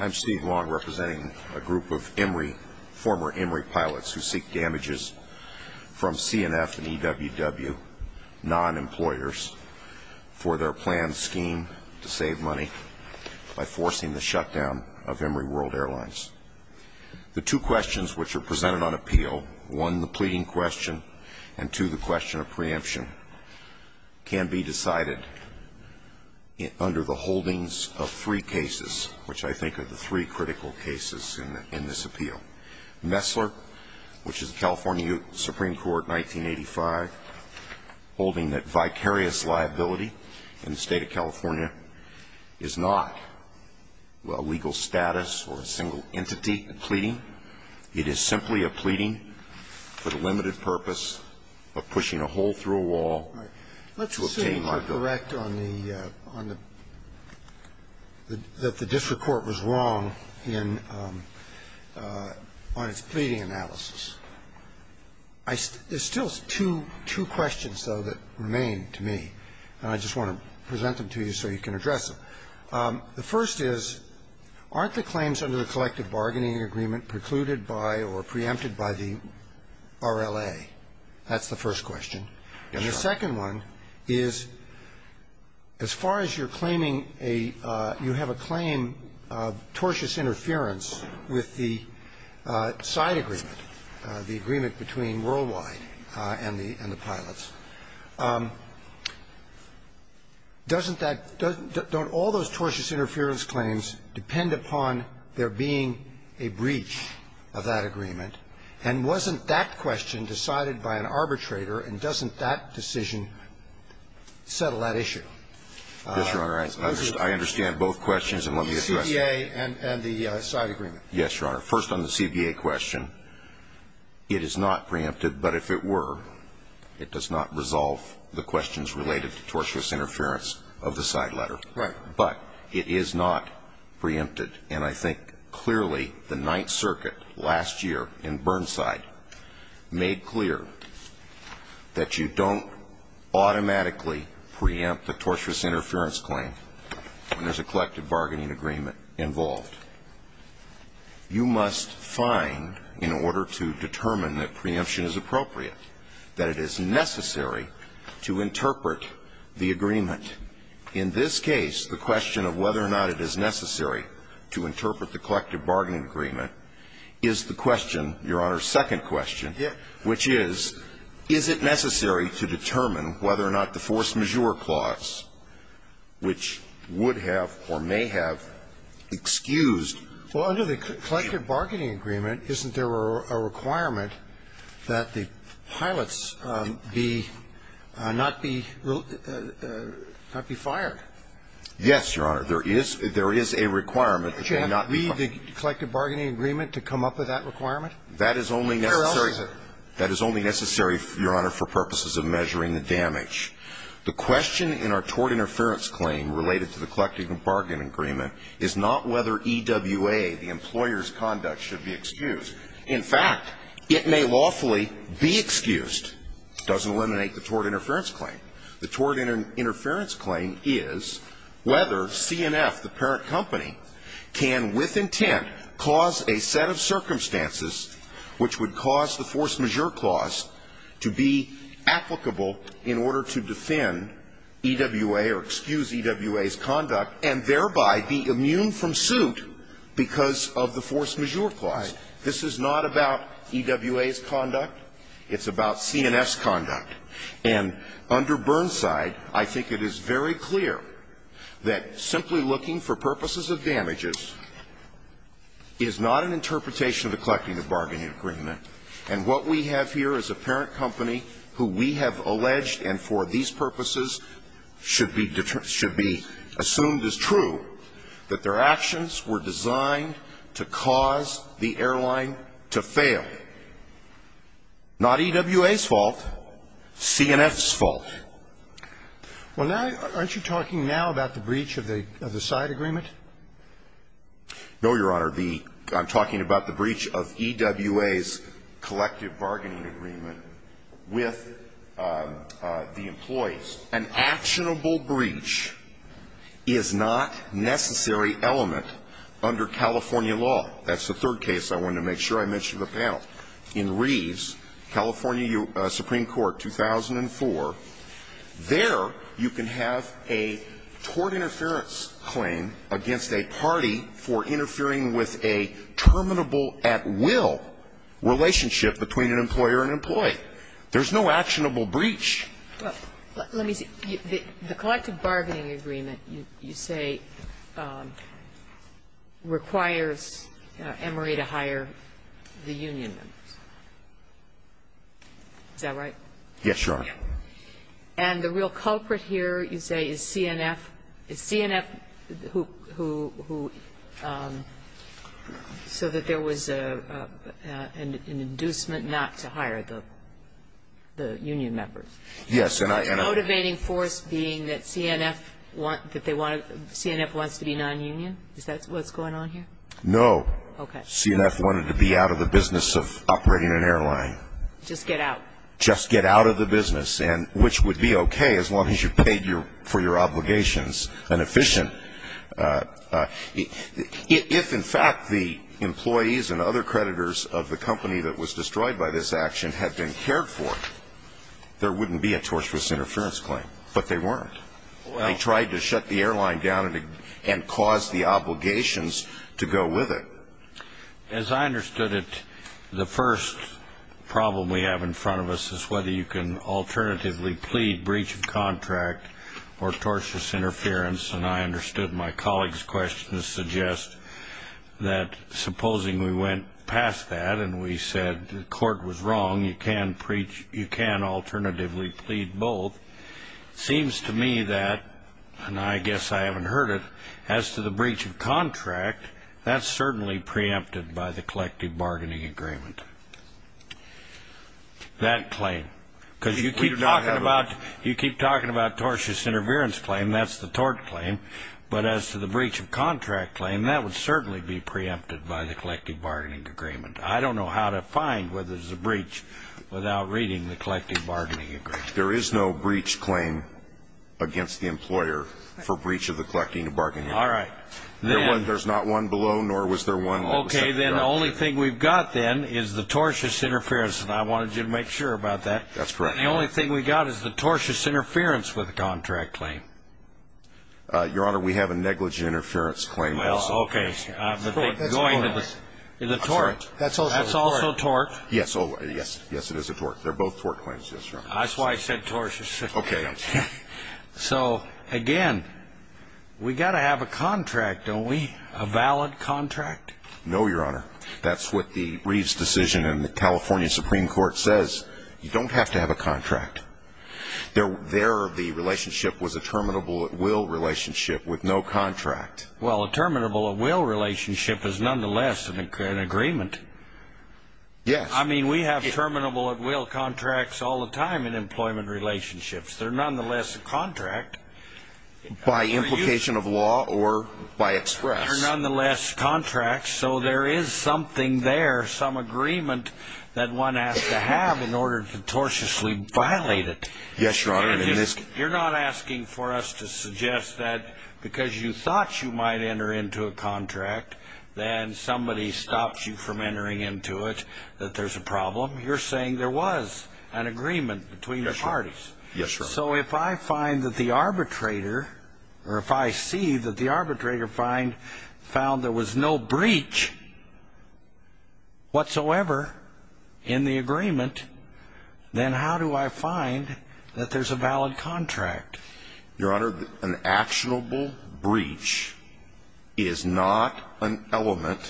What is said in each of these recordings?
I'm Steve Long, representing a group of former Emory pilots who seek damages from CNF and EWW non-employers for their planned scheme to save money by forcing the shutdown of Emory World Airlines. The two questions which are presented on appeal, one the pleading question and two the question of preemption, can be decided under the holdings of three cases, which I think are the three critical cases in this appeal. Messler, which is California Supreme Court, 1985, holding that vicarious liability in the state of California is not a legal status or a single entity in the pleading. It is simply a pleading with a limited purpose of pushing a hole through a wall to obtain liability. Let's assume you're correct on the – that the district court was wrong in – on its pleading analysis. There's still two questions, though, that remain to me, and I just want to present them to you so you can address them. The first is, aren't the claims under the collective bargaining agreement precluded by or preempted by the RLA? That's the first question. And the second one is, as far as you're claiming a – you have a claim of tortious interference with the side agreement, the agreement between Worldwide and the pilots, doesn't that – don't all those tortious interference claims depend upon there being a breach of that agreement? And wasn't that question decided by an arbitrator, and doesn't that decision settle that issue? Yes, Your Honor, I understand both questions, and let me address them. The CBA and the side agreement. Yes, Your Honor. First on the CBA question, it is not preempted, but if it were, it does not resolve the questions related to tortious interference of the side letter. Right. But it is not preempted, and I think clearly the Ninth Circuit last year in Burnside made clear that you don't automatically preempt the tortious interference claim when there's a collective bargaining agreement involved. You must find, in order to determine that preemption is appropriate, that it is necessary to interpret the agreement. In this case, the question of whether or not it is necessary to interpret the collective bargaining agreement is the question, Your Honor, second question, which is, is it necessary to determine whether or not the force majeure clause, which would have or may have excused the plaintiff's claim? Well, under the collective bargaining agreement, isn't there a requirement that the pilots be not be fired? Yes, Your Honor, there is a requirement that they not be fired. Would you have to read the collective bargaining agreement to come up with that requirement? That is only necessary, Your Honor, for purposes of measuring the damage. The question in our tort interference claim related to the collective bargaining agreement is not whether EWA, the employer's conduct, should be excused. In fact, it may lawfully be excused. It doesn't eliminate the tort interference claim. The tort interference claim is whether CNF, the parent company, can with intent cause a set of circumstances which would cause the force majeure clause to be applicable in order to defend EWA or excuse EWA's conduct and thereby be immune from suit because of the force majeure clause. This is not about EWA's conduct. It's about CNF's conduct. And under Burnside, I think it is very clear that simply looking for purposes of damages is not an interpretation of the collective bargaining agreement. And what we have here is a parent company who we have alleged, and for these purposes should be assumed as true, that their actions were designed to cause the airline to fail. Not EWA's fault, CNF's fault. Well, now, aren't you talking now about the breach of the side agreement? No, Your Honor. I'm talking about the breach of EWA's collective bargaining agreement with the employees. An actionable breach is not a necessary element under California law. That's the third case I wanted to make sure I mentioned to the panel. In Reeves, California Supreme Court, 2004, there you can have a tort interference claim against a party for interfering with a terminable at will relationship between an employer and employee. There's no actionable breach. Well, let me see. The collective bargaining agreement you say requires Emory to hire the union members. Is that right? Yes, Your Honor. And the real culprit here, you say, is CNF. Is CNF who, so that there was an inducement not to hire the union members? Yes. The motivating force being that CNF wants to be non-union? Is that what's going on here? No. Okay. CNF wanted to be out of the business of operating an airline. Just get out? Just get out of the business, which would be okay as long as you paid for your obligations and efficient. If, in fact, the employees and other creditors of the company that was destroyed by this action had been cared for, there wouldn't be a tortious interference claim. But they weren't. They tried to shut the airline down and cause the obligations to go with it. As I understood it, the first problem we have in front of us is whether you can alternatively plead breach of contract or tortious interference. And I understood my colleague's question to suggest that supposing we went past that and we said the court was wrong, you can preach, you can alternatively plead both. Seems to me that, and I guess I haven't heard it, as to the breach of contract, that's certainly preempted by the collective bargaining agreement. That claim. Because you keep talking about tortious interference claim, that's the tort claim. But as to the breach of contract claim, that would certainly be preempted by the collective bargaining agreement. I don't know how to find whether there's a breach without reading the collective bargaining agreement. There is no breach claim against the employer for breach of the collective bargaining agreement. All right. There's not one below, nor was there one. Okay, then the only thing we've got then is the tortious interference, and I wanted you to make sure about that. That's correct. And the only thing we've got is the tortious interference with the contract claim. Your Honor, we have a negligent interference claim also. Well, okay. Going to the tort. That's also a tort. That's also a tort. Yes. Yes, it is a tort. They're both tort claims. That's right. That's why I said tortious. Okay. So, again, we've got to have a contract, don't we? A valid contract? No, Your Honor. That's what the Reeves decision in the California Supreme Court says. You don't have to have a contract. Their relationship was a terminable at will relationship with no contract. Well, a terminable at will relationship is nonetheless an agreement. Yes. I mean, we have terminable at will contracts all the time in employment relationships. They're nonetheless a contract. By implication of law or by express. They're nonetheless contracts, so there is something there, some agreement that one has to have in order to tortiously violate it. Yes, Your Honor. You're not asking for us to suggest that because you thought you might enter into a contract, then somebody stops you from entering into it, that there's a problem. You're saying there was an agreement between the parties. Yes, Your Honor. So if I find that the arbitrator, or if I see that the arbitrator found there was no breach whatsoever in the agreement, then how do I find that there's a valid contract? Your Honor, an actionable breach is not an element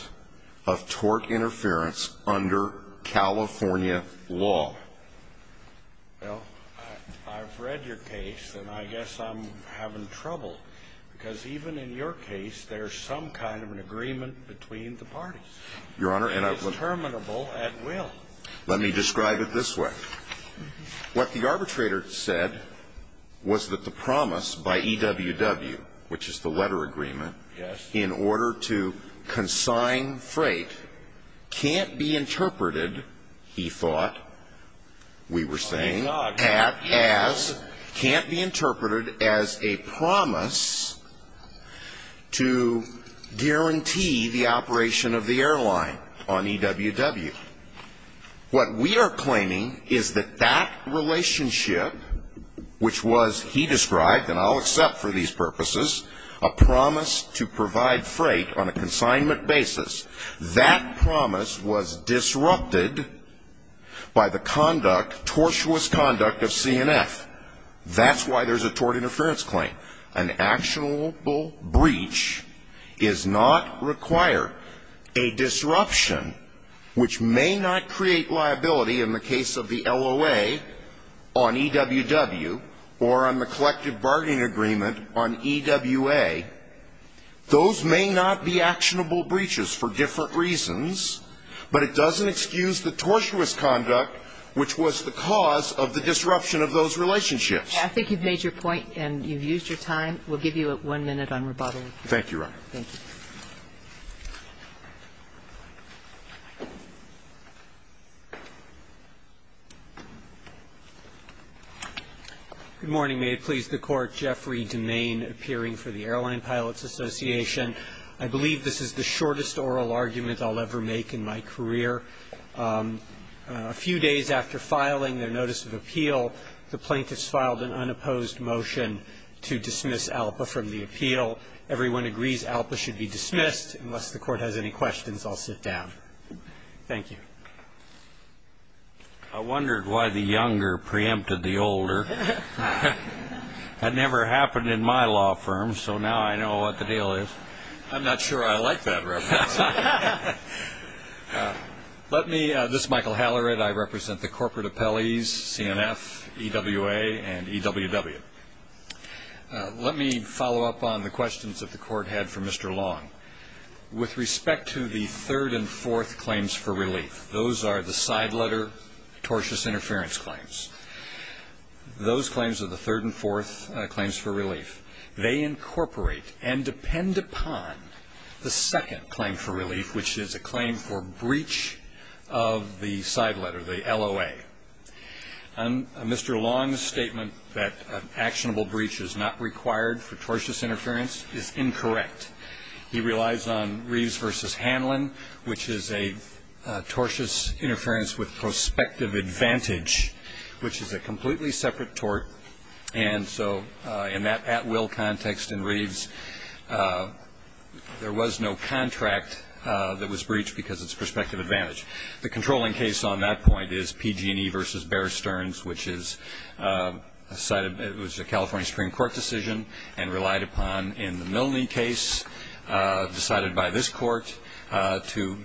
of tort interference under California law. Well, I've read your case, and I guess I'm having trouble, because even in your case, there's some kind of an agreement between the parties. Your Honor, and I've... It's terminable at will. Let me describe it this way. What the arbitrator said was that the promise by EWW, which is the letter agreement... Yes. ...in order to consign freight, can't be interpreted, he thought, we were saying, can't be interpreted as a promise to guarantee the operation of the airline on EWW. What we are claiming is that that relationship, which was, he described, and I'll accept for these purposes, a promise to provide freight on a consignment basis, that promise was disrupted by the tortuous conduct of CNF. That's why there's a tort interference claim. An actionable breach does not require a disruption, which may not create liability in the case of the LOA on EWW, or on the collective bargaining agreement on EWA. Those may not be actionable breaches for different reasons, but it doesn't excuse the tortuous conduct, which was the cause of the disruption of those relationships. I think you've made your point, and you've used your time. We'll give you one minute on rebuttal. Thank you, Your Honor. Thank you. Good morning. May it please the Court. Jeffrey DeMaine, appearing for the Airline Pilots Association. I believe this is the shortest oral argument I'll ever make in my career. A few days after filing their notice of appeal, the plaintiffs filed an unopposed motion to dismiss ALPA from the appeal. Everyone agrees ALPA should be dismissed. Unless the Court has any questions, I'll sit down. Thank you. I wondered why the younger preempted the older. That never happened in my law firm, so now I know what the deal is. I'm not sure I like that reference. This is Michael Hallerid. I represent the corporate appellees, CNF, EWA, and EWW. Let me follow up on the questions that the Court had for Mr. Long. With respect to the third and fourth claims for relief, those are the side letter tortious interference claims. Those claims are the third and fourth claims for relief. They incorporate and depend upon the second claim for relief, which is a claim for breach of the side letter, the LOA. Mr. Long's statement that an actionable breach is not required for tortious interference is incorrect. He relies on Reeves v. Hanlon, which is a tortious interference with prospective advantage, which is a completely separate tort. And so in that at-will context in Reeves, there was no contract that was breached because it's prospective advantage. The controlling case on that point is PG&E v. Bear Stearns, which is a California Supreme Court decision, and relied upon in the Milne case decided by this Court to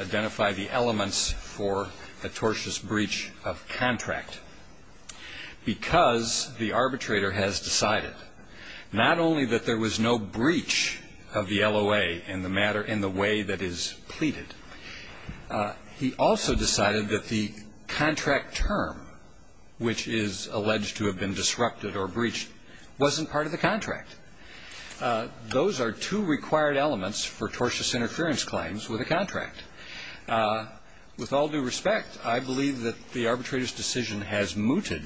identify the elements for a tortious breach of contract. Because the arbitrator has decided not only that there was no breach of the LOA in the way that is pleaded, he also decided that the contract term, which is alleged to have been disrupted or breached, wasn't part of the contract. Those are two required elements for tortious interference claims with a contract. With all due respect, I believe that the arbitrator's decision has mooted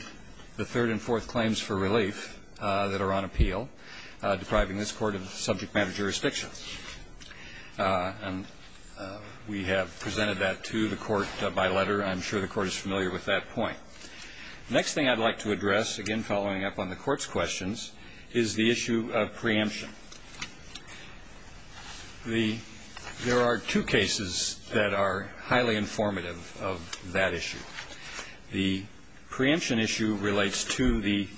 the third and fourth claims for relief that are on appeal, depriving this Court of subject matter jurisdiction. And we have presented that to the Court by letter. I'm sure the Court is familiar with that point. The next thing I'd like to address, again following up on the Court's questions, is the issue of preemption. There are two cases that are highly informative of that issue. The preemption issue relates to the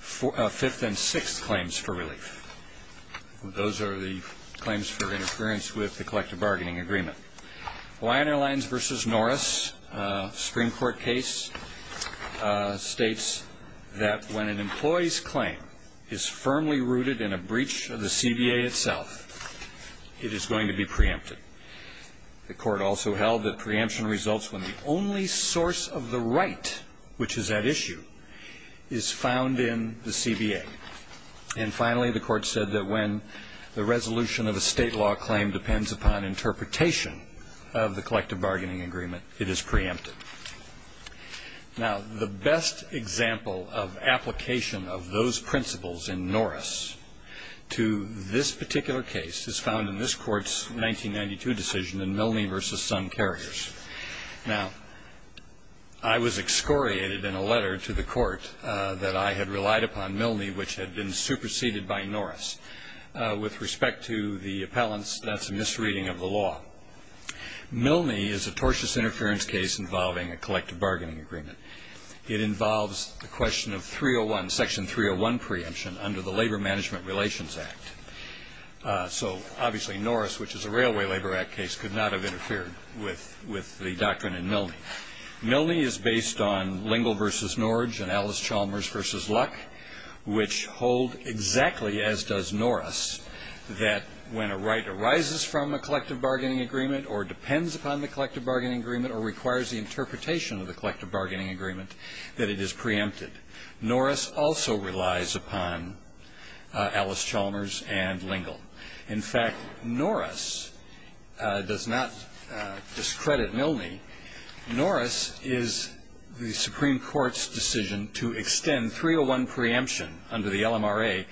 fifth and sixth claims for relief. Those are the claims for interference with the collective bargaining agreement. Lion Airlines v. Norris, a Supreme Court case, states that when an employee's claim is firmly rooted in a breach of the CBA itself, it is going to be preempted. The Court also held that preemption results when the only source of the right, which is at issue, is found in the CBA. And finally, the Court said that when the resolution of a state law claim depends upon interpretation of the collective bargaining agreement, it is preempted. Now, the best example of application of those principles in Norris to this particular case is found in this Court's 1992 decision in Milne v. Sun Carriers. Now, I was excoriated in a letter to the Court that I had relied upon Milne, which had been superseded by Norris. With respect to the appellants, that's a misreading of the law. Milne is a tortious interference case involving a collective bargaining agreement. It involves the question of Section 301 preemption under the Labor Management Relations Act. So, obviously, Norris, which is a Railway Labor Act case, could not have interfered with the doctrine in Milne. Milne is based on Lingle v. Norridge and Alice Chalmers v. Luck, which hold exactly as does Norris, that when a right arises from a collective bargaining agreement or depends upon the collective bargaining agreement or requires the interpretation of the collective bargaining agreement, that it is preempted. Norris also relies upon Alice Chalmers and Lingle. In fact, Norris does not discredit Milne. Norris is the Supreme Court's decision to extend 301 preemption under the LMRA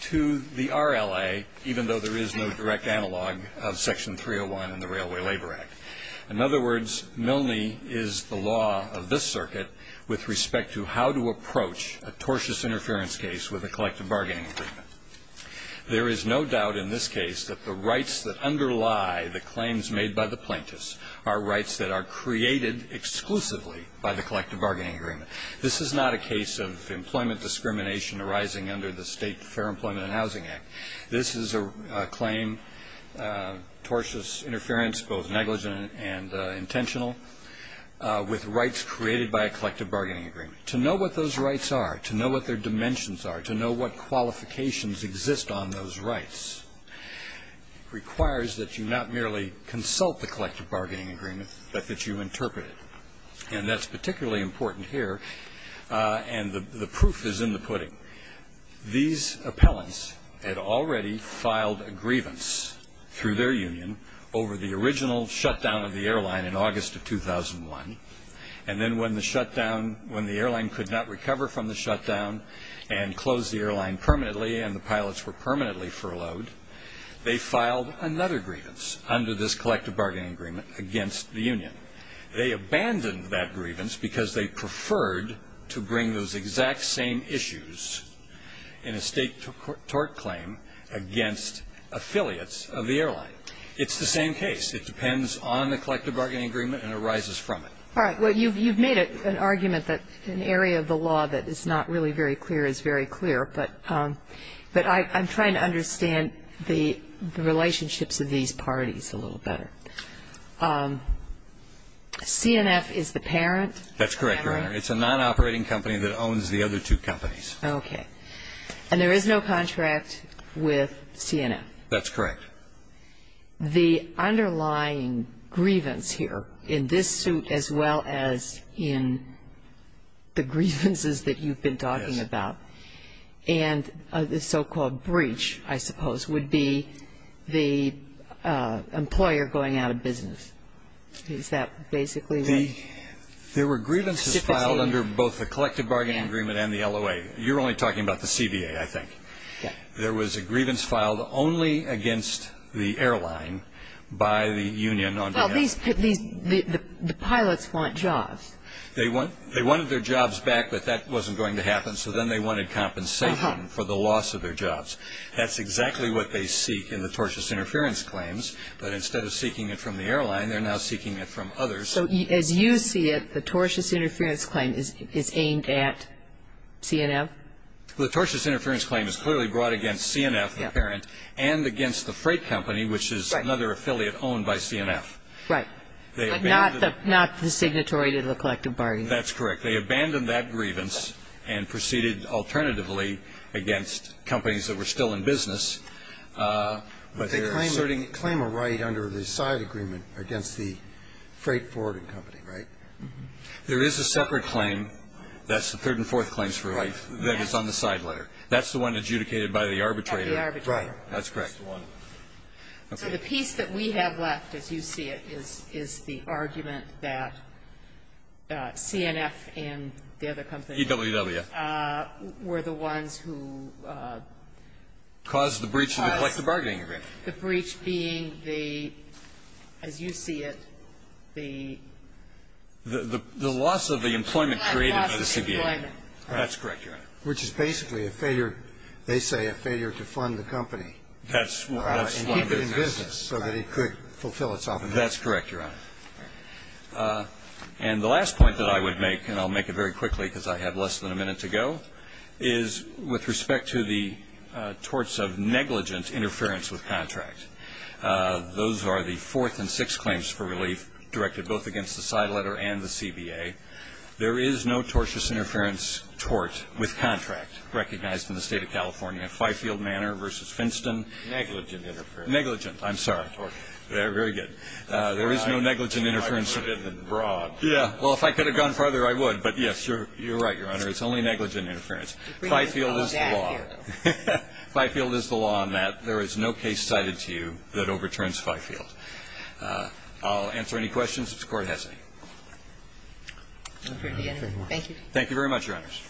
to the RLA, even though there is no direct analog of Section 301 in the Railway Labor Act. In other words, Milne is the law of this circuit with respect to how to approach a tortious interference case with a collective bargaining agreement. There is no doubt in this case that the rights that underlie the claims made by the plaintiffs are rights that are created exclusively by the collective bargaining agreement. This is not a case of employment discrimination arising under the State Fair Employment and Housing Act. This is a claim, tortious interference, both negligent and intentional, with rights created by a collective bargaining agreement. To know what those rights are, to know what their dimensions are, to know what qualifications exist on those rights, requires that you not merely consult the collective bargaining agreement, but that you interpret it. And that's particularly important here, and the proof is in the pudding. These appellants had already filed a grievance through their union over the original shutdown of the airline in August of 2001, and then when the airline could not recover from the shutdown and close the airline permanently and the pilots were permanently furloughed, they filed another grievance under this collective bargaining agreement against the union. They abandoned that grievance because they preferred to bring those exact same issues in a state tort claim against affiliates of the airline. It's the same case. It depends on the collective bargaining agreement and arises from it. All right. Well, you've made an argument that an area of the law that is not really very clear is very clear, but I'm trying to understand the relationships of these parties a little better. CNF is the parent? That's correct, Your Honor. It's a non-operating company that owns the other two companies. Okay. And there is no contract with CNF? That's correct. The underlying grievance here, in this suit as well as in the grievances that you've been talking about, and the so-called breach, I suppose, would be the employer going out of business. Is that basically what? There were grievances filed under both the collective bargaining agreement and the LOA. You're only talking about the CBA, I think. Yeah. There was a grievance filed only against the airline by the union. Well, the pilots want jobs. They wanted their jobs back, but that wasn't going to happen, so then they wanted compensation for the loss of their jobs. That's exactly what they seek in the tortious interference claims, but instead of seeking it from the airline, they're now seeking it from others. So as you see it, the tortious interference claim is aimed at CNF? The tortious interference claim is clearly brought against CNF, the parent, and against the freight company, which is another affiliate owned by CNF. Right. But not the signatory to the collective bargaining agreement. That's correct. They abandoned that grievance and proceeded alternatively against companies that were still in business. But they claim a right under the side agreement against the freight forwarding company, right? There is a separate claim. That's the third and fourth claims for right that is on the side letter. That's the one adjudicated by the arbitrator. By the arbitrator. Right. That's correct. So the piece that we have left, as you see it, is the argument that CNF and the other companies were the ones who caused the breach of the collective bargaining agreement. Caused the breach being the, as you see it, the The loss of the employment created by the CBA. That's correct, Your Honor. Which is basically a failure, they say, a failure to fund the company. That's one business. In business, so that it could fulfill itself. That's correct, Your Honor. And the last point that I would make, and I'll make it very quickly because I have less than a minute to go, is with respect to the torts of negligent interference with contract. Those are the fourth and sixth claims for relief directed both against the side letter and the CBA. There is no tortious interference tort with contract recognized in the state of California. Fifield Manor versus Finston. Negligent interference. Negligent. I'm sorry. Very good. There is no negligent interference. Well, if I could have gone further, I would. But yes, you're right, Your Honor. It's only negligent interference. Fifield is the law. Fifield is the law on that. There is no case cited to you that overturns Fifield. I'll answer any questions if the Court has any. Thank you. Thank you very much, Your Honors.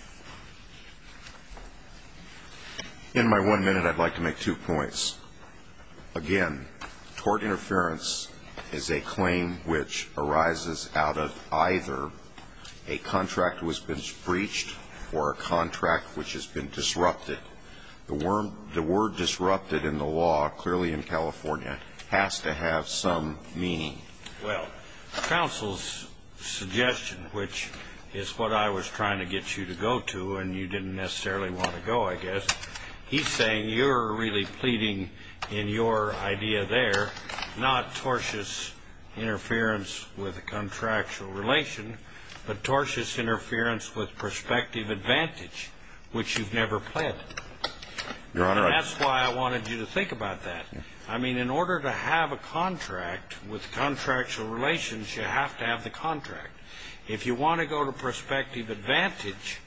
In my one minute, I'd like to make two points. Again, tort interference is a claim which arises out of either a contract which has been breached or a contract which has been disrupted. The word disrupted in the law, clearly in California, has to have some meaning. Well, counsel's suggestion, which is what I was trying to get you to go to, and you didn't necessarily want to go, I guess, he's saying you're really pleading in your idea there, not tortious interference with a contractual relation, but tortious interference with prospective advantage, which you've never pled. Your Honor, I... And that's why I wanted you to think about that. I mean, in order to have a contract with contractual relations, you have to have the contract. If you want to go to prospective advantage,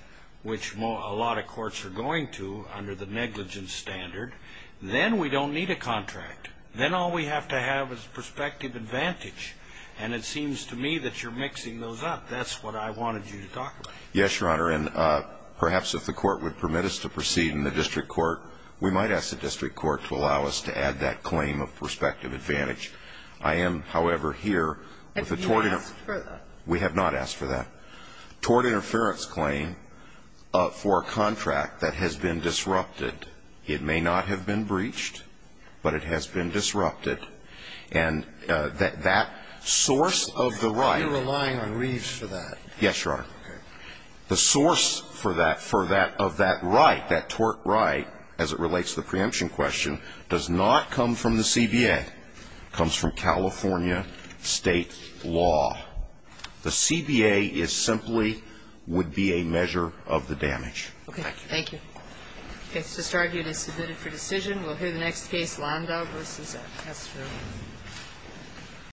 which a lot of courts are going to under the negligence standard, then we don't need a contract. Then all we have to have is prospective advantage. And it seems to me that you're mixing those up. That's what I wanted you to talk about. Yes, Your Honor. And perhaps if the Court would permit us to proceed in the district court, we might ask the district court to allow us to add that claim of prospective advantage. I am, however, here with a tort... If you ask further. We have not asked for that. Tort interference claim for a contract that has been disrupted. It may not have been breached, but it has been disrupted. And that source of the right... Are you relying on Reeves for that? Yes, Your Honor. Okay. The source for that, for that, of that right, that tort right, as it relates to the preemption question, does not come from the CBA. It comes from California state law. The CBA is simply would be a measure of the damage. Okay. Thank you. Okay. It's just argued as submitted for decision. We'll hear the next case, Landau v. Estrella.